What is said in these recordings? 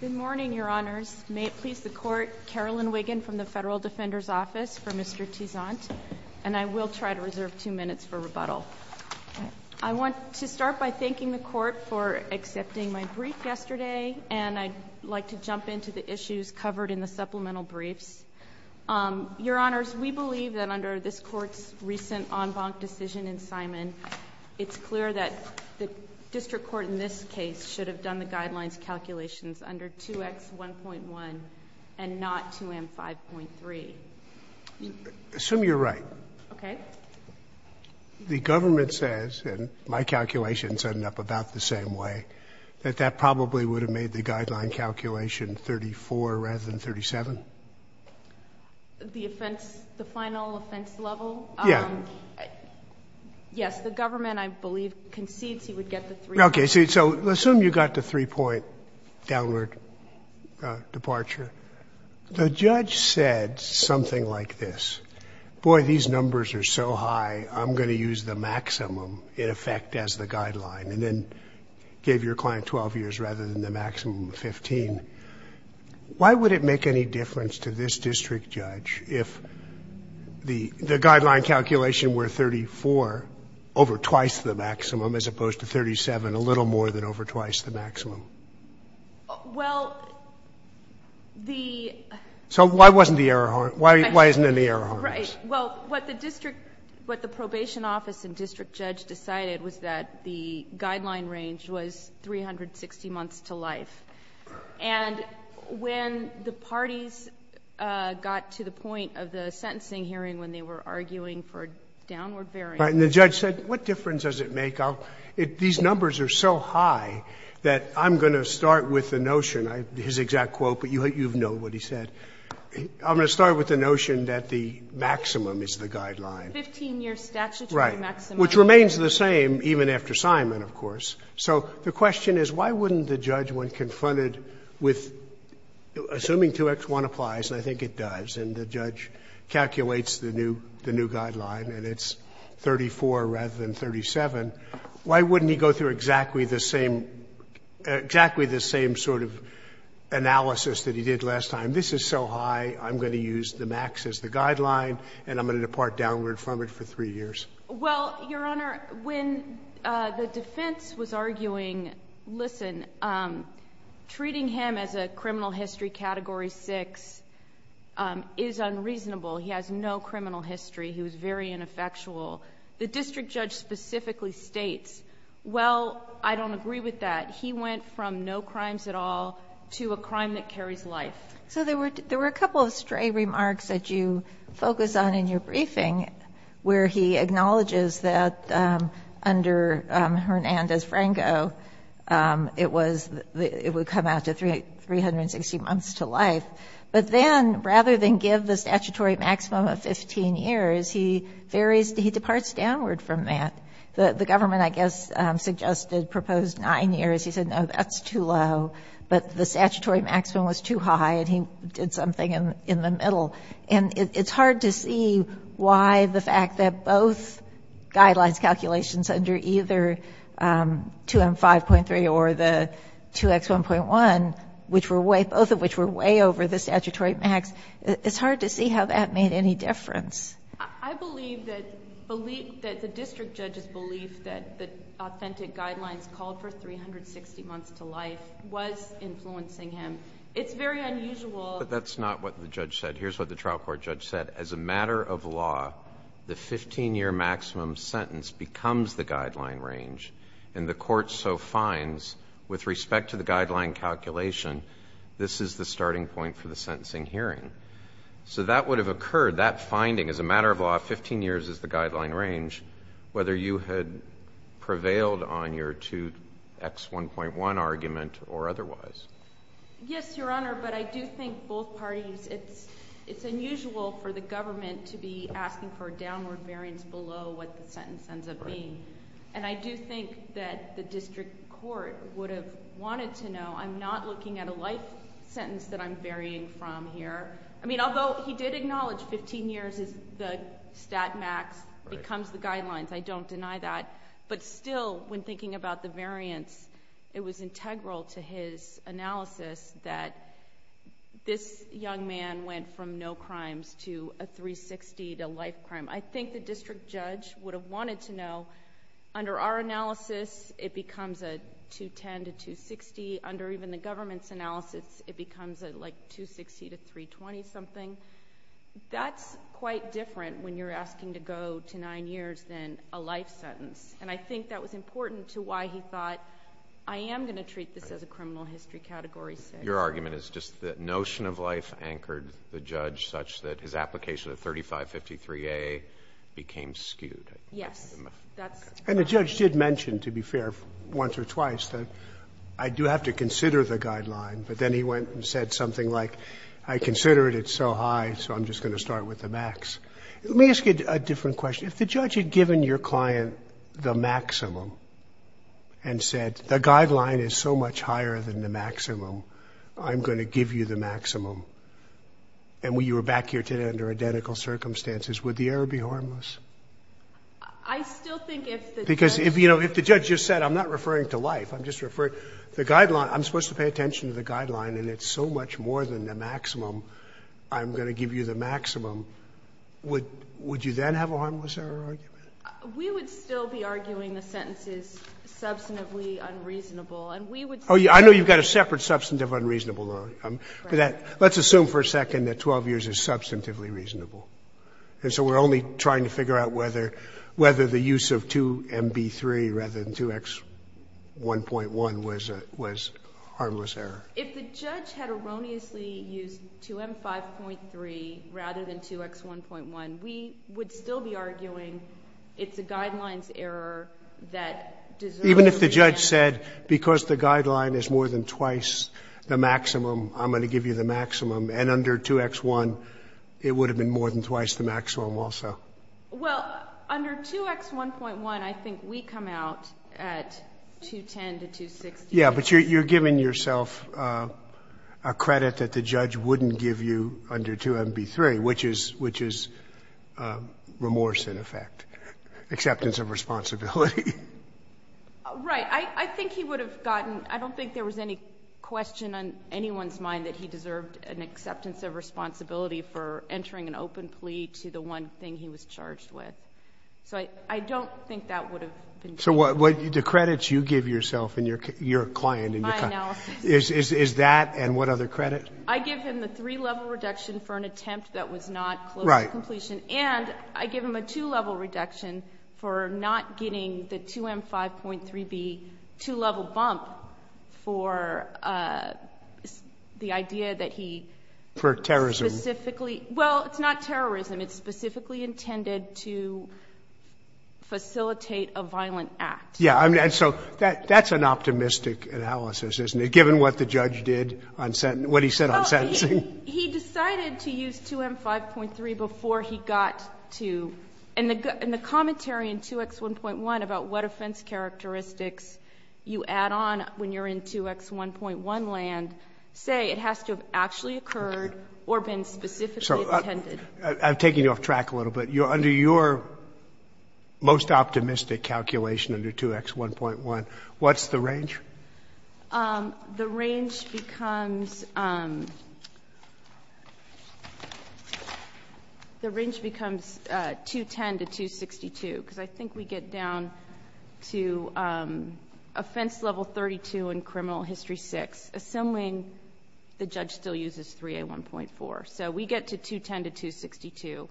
Good morning, Your Honors. May it please the Court, Carolyn Wiggin from the Federal Defender's Office for Mr. Teausant, and I will try to reserve two minutes for rebuttal. I want to start by thanking the Court for accepting my brief yesterday, and I'd like to jump into the issues covered in the supplemental briefs. Your Honors, we believe that under this Court's recent en banc decision in Simon, it's clear that the district court in this case should have done the guidelines calculations under 2X1.1 and not 2M5.3. Assume you're right. Okay. The government says, and my calculations end up about the same way, that that probably would have made the guideline calculation 34 rather than 37. The offense, the final offense level? Yeah. Yes. The government, I believe, concedes he would get the 3. Okay. So assume you got the 3-point downward departure. The judge said something like this. Boy, these numbers are so high, I'm going to use the maximum in effect as the guideline, and then gave your client 12 years rather than the maximum of 15. Why would it make any difference to this district judge if the guideline calculation were 34 over twice the maximum as opposed to 37 a little more than over twice the maximum? Well, the ---- So why wasn't the error harmed? Why isn't any error harmed? Right. Well, what the district, what the probation office and district judge decided was that the guideline range was 360 months to life. And when the parties got to the point of the sentencing hearing when they were arguing for downward bearing ---- Right. And the judge said, what difference does it make? These numbers are so high that I'm going to start with the notion, his exact quote, but you know what he said. I'm going to start with the notion that the maximum is the guideline. 15-year statutory maximum. Right. Which remains the same even after assignment, of course. So the question is, why wouldn't the judge, when confronted with, assuming 2X1 applies and I think it does, and the judge calculates the new guideline and it's 34 rather than 37, why wouldn't he go through exactly the same, exactly the same sort of analysis that he did last time? This is so high, I'm going to use the max as the guideline and I'm going to depart downward from it for 3 years. Well, Your Honor, when the defense was arguing, listen, treating him as a criminal history category 6 is unreasonable. He has no criminal history. He was very ineffectual. The district judge specifically states, well, I don't agree with that. He went from no crimes at all to a crime that carries life. So there were a couple of stray remarks that you focus on in your briefing where he acknowledges that under Hernandez-Franco, it would come out to 360 months to life. But then, rather than give the statutory maximum of 15 years, he varies, he departs downward from that. The government, I guess, suggested proposed 9 years. He said, no, that's too low. But the statutory maximum was too high and he did something in the middle. And it's hard to see why the fact that both guidelines calculations under either 2M5.3 or the 2X1.1, which were way, both of which were way over the statutory max, it's hard to see how that made any difference. I believe that the district judge's belief that authentic guidelines called for 360 months to life was influencing him. It's very unusual. But that's not what the judge said. Here's what the trial court judge said. As a matter of law, the 15-year maximum sentence becomes the guideline range. And the court so finds, with respect to the guideline calculation, this is the starting point for the sentencing hearing. So that would have occurred, that finding as a matter of law, 15 years is the X1.1 argument or otherwise. Yes, Your Honor, but I do think both parties, it's unusual for the government to be asking for a downward variance below what the sentence ends up being. And I do think that the district court would have wanted to know. I'm not looking at a life sentence that I'm varying from here. I mean, although he did acknowledge 15 years is the stat max becomes the guidelines. I don't deny that. But still, when thinking about the variance, it was integral to his analysis that this young man went from no crimes to a 360 to life crime. I think the district judge would have wanted to know. Under our analysis, it becomes a 210 to 260. Under even the government's analysis, it becomes a 260 to 320 something. That's quite different when you're asking to go to 9 years than a life sentence. And I think that was important to why he thought, I am going to treat this as a criminal history Category 6. Your argument is just that notion of life anchored the judge such that his application of 3553A became skewed. Yes. And the judge did mention, to be fair, once or twice, that I do have to consider the guideline. But then he went and said something like, I consider it so high, so I'm just going to start with the max. Let me ask you a different question. If the judge had given your client the maximum and said, the guideline is so much higher than the maximum, I'm going to give you the maximum, and you were back here today under identical circumstances, would the error be harmless? I still think if the judge... Because, you know, if the judge just said, I'm not referring to life, I'm just going to pay attention to the guideline, and it's so much more than the maximum, I'm going to give you the maximum, would you then have a harmless error argument? We would still be arguing the sentence is substantively unreasonable. Oh, I know you've got a separate substantive unreasonable. Let's assume for a second that 12 years is substantively reasonable. And so we're only trying to figure out whether the use of 2MB3 rather than 2X1.1 was a harmless error. If the judge had erroneously used 2M5.3 rather than 2X1.1, we would still be arguing it's a guidelines error that deserves... Even if the judge said, because the guideline is more than twice the maximum, I'm going to give you the maximum. And under 2X1, it would have been more than twice the maximum also. Well, under 2X1.1, I think we come out at 210 to 260. Yeah, but you're giving yourself a credit that the judge wouldn't give you under 2MB3, which is remorse in effect, acceptance of responsibility. Right. I think he would have gotten — I don't think there was any question on anyone's mind that he deserved an acceptance of responsibility for entering an open plea to the one thing he was charged with. So I don't think that would have been true. So the credits you give yourself and your client is that and what other credit? I give him the three-level reduction for an attempt that was not close to completion. Right. And I give him a two-level reduction for not getting the 2M5.3B two-level bump for the idea that he... For terrorism. Well, it's not terrorism. It's specifically intended to facilitate a violent act. Yeah. And so that's an optimistic analysis, isn't it, given what the judge did on — what he said on sentencing? He decided to use 2M5.3 before he got to — and the commentary in 2X1.1 about what offense characteristics you add on when you're in 2X1.1 land say it has to have actually occurred or been specifically intended. I'm taking you off track a little bit. Under your most optimistic calculation under 2X1.1, what's the range? The range becomes — the range becomes 210 to 262 because I think we get down to offense level 32 and criminal history 6, assuming the judge still uses 3A1.4. So we get to 210 to 262.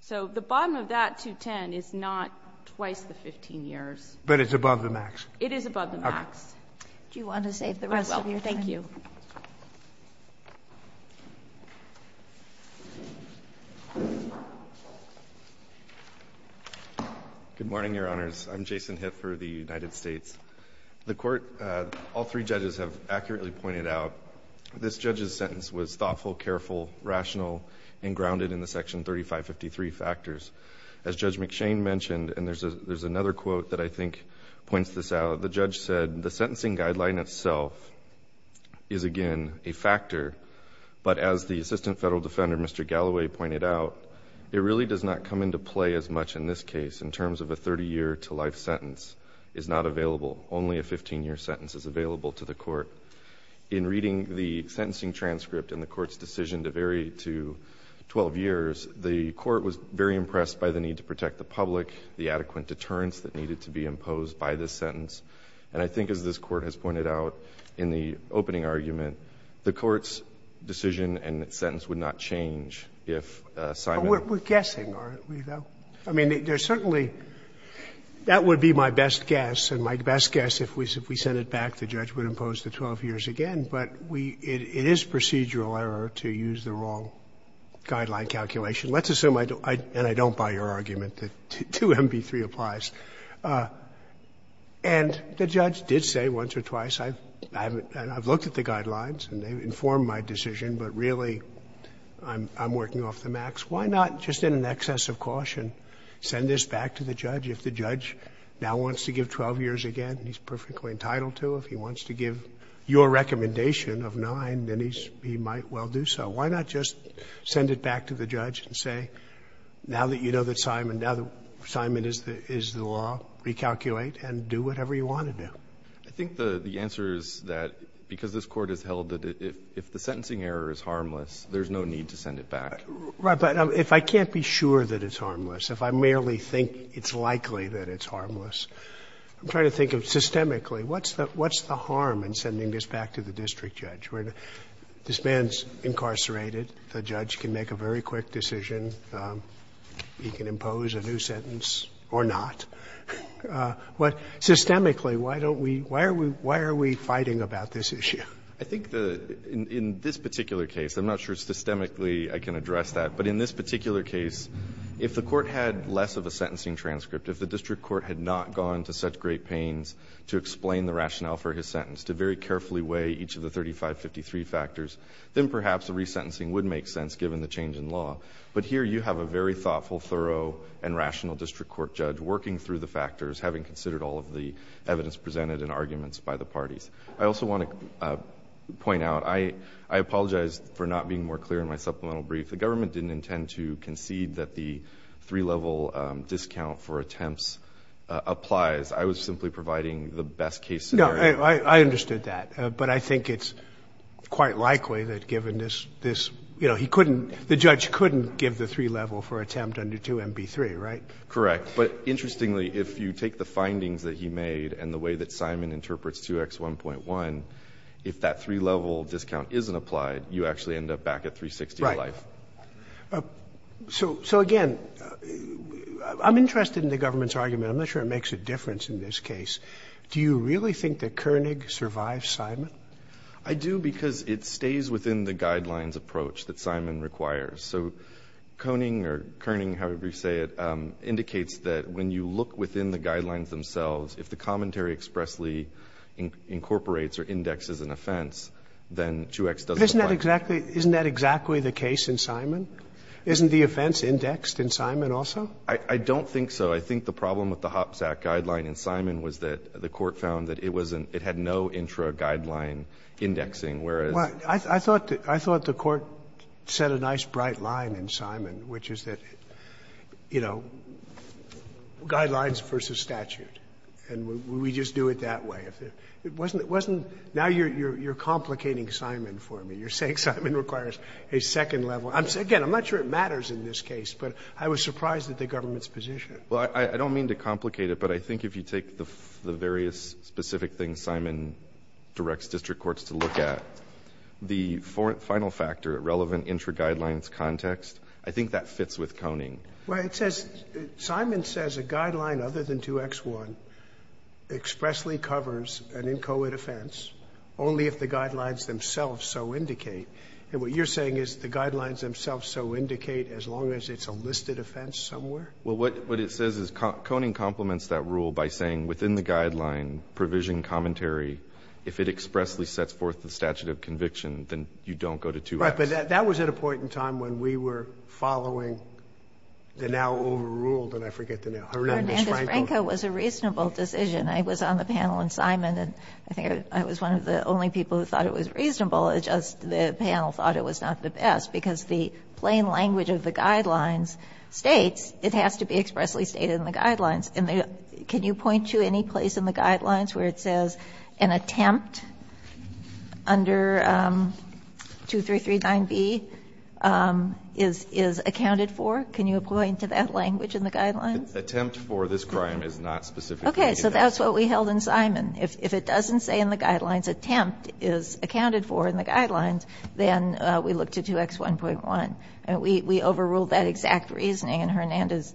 So the bottom of that 210 is not twice the 15 years. But it's above the max. It is above the max. Okay. Do you want to save the rest of your time? I will. Thank you. Good morning, Your Honors. I'm Jason Hiff for the United States. The Court, all three judges have accurately pointed out, this judge's sentence was thoughtful, careful, rational, and grounded in the Section 3553 factors. As Judge McShane mentioned, and there's another quote that I think points this out, the judge said, the sentencing guideline itself is again a factor, but as the Assistant Federal Defender, Mr. Galloway, pointed out, it really does not come into play as much in this case in terms of a 30-year to life sentence is not available. Only a 15-year sentence is available to the Court. In reading the sentencing transcript and the Court's decision to vary to 12 years, the Court was very impressed by the need to protect the public, the adequate deterrence that needed to be imposed by this sentence. And I think, as this Court has pointed out in the opening argument, the Court's decision and its sentence would not change if Simon. We're guessing, aren't we, though? I mean, there's certainly – that would be my best guess, and my best guess, if we sent it back, the judge would impose the 12 years again. But we – it is procedural error to use the wrong guideline calculation. Let's assume I don't – and I don't buy your argument that 2MV3 applies. And the judge did say once or twice, I haven't – and I've looked at the guidelines and they've informed my decision, but really, I'm working off the max. Why not, just in an excess of caution, send this back to the judge? If the judge now wants to give 12 years again, and he's perfectly entitled to, if he wants to give your recommendation of 9, then he's – he might well do so. Why not just send it back to the judge and say, now that you know that Simon – now that Simon is the law, recalculate and do whatever you want to do? I think the answer is that because this Court has held that if the sentencing error is harmless, there's no need to send it back. Right. But if I can't be sure that it's harmless, if I merely think it's likely that it's harmless, I'm trying to think of systemically, what's the harm in sending this back to the district judge? This man's incarcerated. The judge can make a very quick decision. He can impose a new sentence or not. But systemically, why don't we – why are we fighting about this issue? I think the – in this particular case, I'm not sure systemically I can address that, but in this particular case, if the Court had less of a sentencing transcript, if the district court had not gone to such great pains to explain the rationale for his sentence, to very carefully weigh each of the 3553 factors, then perhaps the resentencing would make sense given the change in law. But here you have a very thoughtful, thorough, and rational district court judge working through the factors, having considered all of the evidence presented and arguments by the parties. I also want to point out, I apologize for not being more clear in my supplemental brief, the government didn't intend to concede that the three-level discount for attempts applies. I was simply providing the best case scenario. No, I understood that. But I think it's quite likely that given this, you know, he couldn't – the judge couldn't give the three-level for attempt under 2MB3, right? Correct. But interestingly, if you take the findings that he made and the way that Simon interprets 2X1.1, if that three-level discount isn't applied, you actually end up back at 360 in life. Right. So again, I'm interested in the government's argument. I'm not sure it makes a difference in this case. Do you really think that Koenig survives Simon? I do because it stays within the guidelines approach that Simon requires. So Koenig or Koenig, however you say it, indicates that when you look within the guidelines themselves, if the commentary expressly incorporates or indexes an offense, then 2X doesn't apply. Isn't that exactly the case in Simon? Isn't the offense indexed in Simon also? I don't think so. But I think the problem with the HOPPS Act guideline in Simon was that the Court found that it was an – it had no intra-guideline indexing, whereas – Well, I thought the Court set a nice, bright line in Simon, which is that, you know, guidelines versus statute. And we just do it that way. It wasn't – now you're complicating Simon for me. You're saying Simon requires a second-level. Again, I'm not sure it matters in this case, but I was surprised at the government's position. Well, I don't mean to complicate it, but I think if you take the various specific things Simon directs district courts to look at, the final factor, relevant intra-guidelines context, I think that fits with Koenig. Well, it says – Simon says a guideline other than 2X1 expressly covers an inchoate offense only if the guidelines themselves so indicate. And what you're saying is the guidelines themselves so indicate as long as it's a listed offense somewhere? Well, what it says is Koenig complements that rule by saying within the guideline provision commentary, if it expressly sets forth the statute of conviction, then you don't go to 2X. Right. But that was at a point in time when we were following the now overruled – and I forget the name – Hernandez-Franco. Hernandez-Franco was a reasonable decision. I was on the panel in Simon, and I think I was one of the only people who thought it was reasonable. It's just the panel thought it was not the best, because the plain language of the statute has to be expressly stated in the guidelines. And can you point to any place in the guidelines where it says an attempt under 2339B is accounted for? Can you point to that language in the guidelines? Attempt for this crime is not specifically indicated. Okay. So that's what we held in Simon. If it doesn't say in the guidelines attempt is accounted for in the guidelines, then we look to 2X1.1. And we overruled that exact reasoning in Hernandez.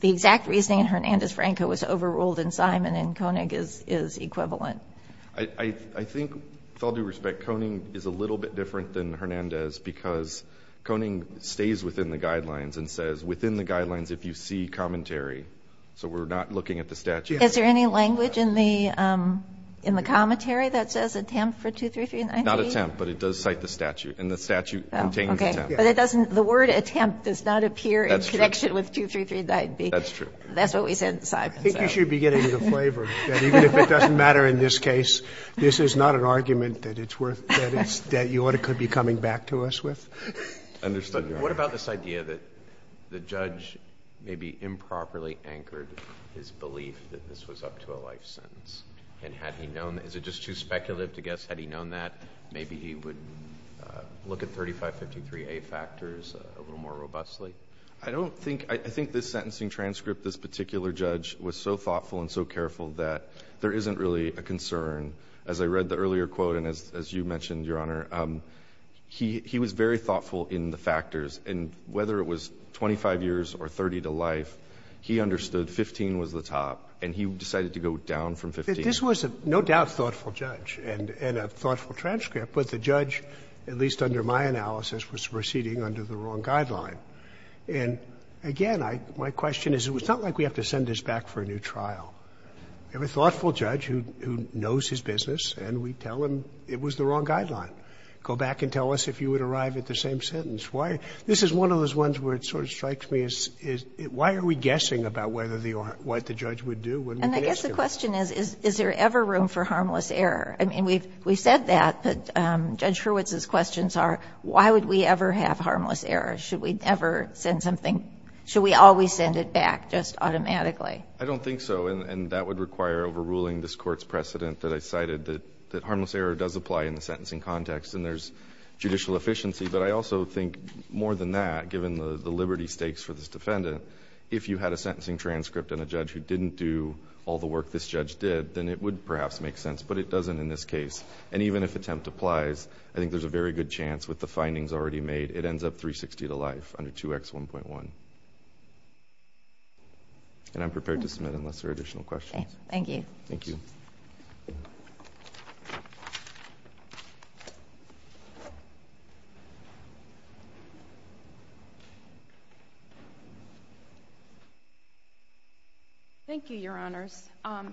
The exact reasoning in Hernandez-Franco was overruled in Simon, and Koenig is equivalent. I think, with all due respect, Koenig is a little bit different than Hernandez because Koenig stays within the guidelines and says within the guidelines if you see commentary. So we're not looking at the statute. Is there any language in the commentary that says attempt for 2339B? Okay. But it doesn't the word attempt does not appear in connection with 2339B. That's true. That's what we said in Simon. I think you should be getting the flavor that even if it doesn't matter in this case, this is not an argument that it's worth that you ought to be coming back to us with. Understood, Your Honor. What about this idea that the judge maybe improperly anchored his belief that this was up to a life sentence? And had he known? Is it just too speculative to guess? Had he known that? Maybe he would look at 3553A factors a little more robustly. I don't think — I think this sentencing transcript, this particular judge was so thoughtful and so careful that there isn't really a concern. As I read the earlier quote, and as you mentioned, Your Honor, he was very thoughtful in the factors. And whether it was 25 years or 30 to life, he understood 15 was the top, and he decided to go down from 15. This was no doubt a thoughtful judge and a thoughtful transcript. But the judge, at least under my analysis, was proceeding under the wrong guideline. And again, my question is, it was not like we have to send this back for a new trial. We have a thoughtful judge who knows his business, and we tell him it was the wrong guideline. Go back and tell us if you would arrive at the same sentence. Why — this is one of those ones where it sort of strikes me as why are we guessing about whether the — what the judge would do when we ask him? My question is, is there ever room for harmless error? I mean, we've said that, but Judge Hurwitz's questions are, why would we ever have harmless error? Should we ever send something — should we always send it back just automatically? I don't think so. And that would require overruling this Court's precedent that I cited, that harmless error does apply in the sentencing context, and there's judicial efficiency. But I also think, more than that, given the liberty stakes for this defendant, if you had a sentencing transcript and a judge who didn't do all the work this judge did, then it would perhaps make sense. But it doesn't in this case. And even if attempt applies, I think there's a very good chance with the findings already made, it ends up 360 to life under 2X1.1. And I'm prepared to submit unless there are additional questions. Thank you. Thank you. Thank you, Your Honors. I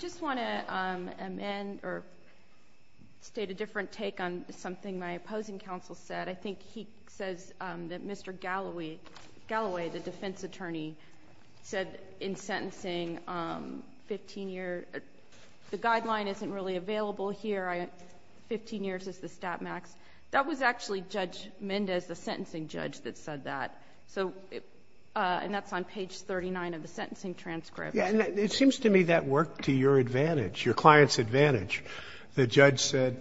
just want to amend or state a different take on something my opposing counsel said. I think he says that Mr. Galloway, the defense attorney, said in sentencing, 15-year — the guideline isn't really available here. Fifteen years is the stat max. That was actually Judge Mendez, the sentencing judge, that said that. So — and that's on page 39 of the sentencing transcript. Yeah. It seems to me that worked to your advantage, your client's advantage. The judge said,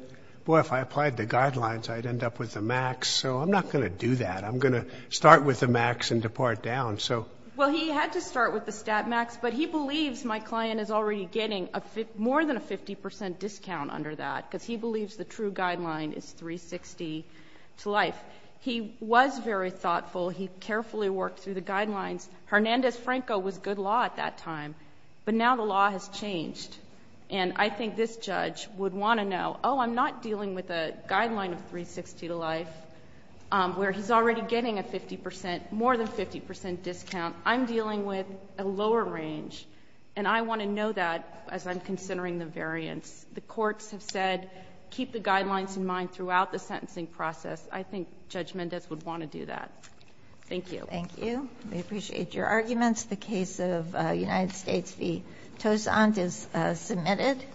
boy, if I applied the guidelines, I'd end up with the max. So I'm not going to do that. I'm going to start with the max and depart down. So — Well, he had to start with the stat max, but he believes my client is already getting more than a 50 percent discount under that, because he believes the true guideline is 360 to life. He was very thoughtful. He carefully worked through the guidelines. Hernandez-Franco was good law at that time, but now the law has changed. And I think this judge would want to know, oh, I'm not dealing with a guideline of 360 to life, where he's already getting a 50 percent — more than 50 percent discount. I'm dealing with a lower range, and I want to know that as I'm considering the variance. The courts have said, keep the guidelines in mind throughout the sentencing process. I think Judge Mendez would want to do that. Thank you. Thank you. We appreciate your arguments. The case of United States v. Tozant is submitted.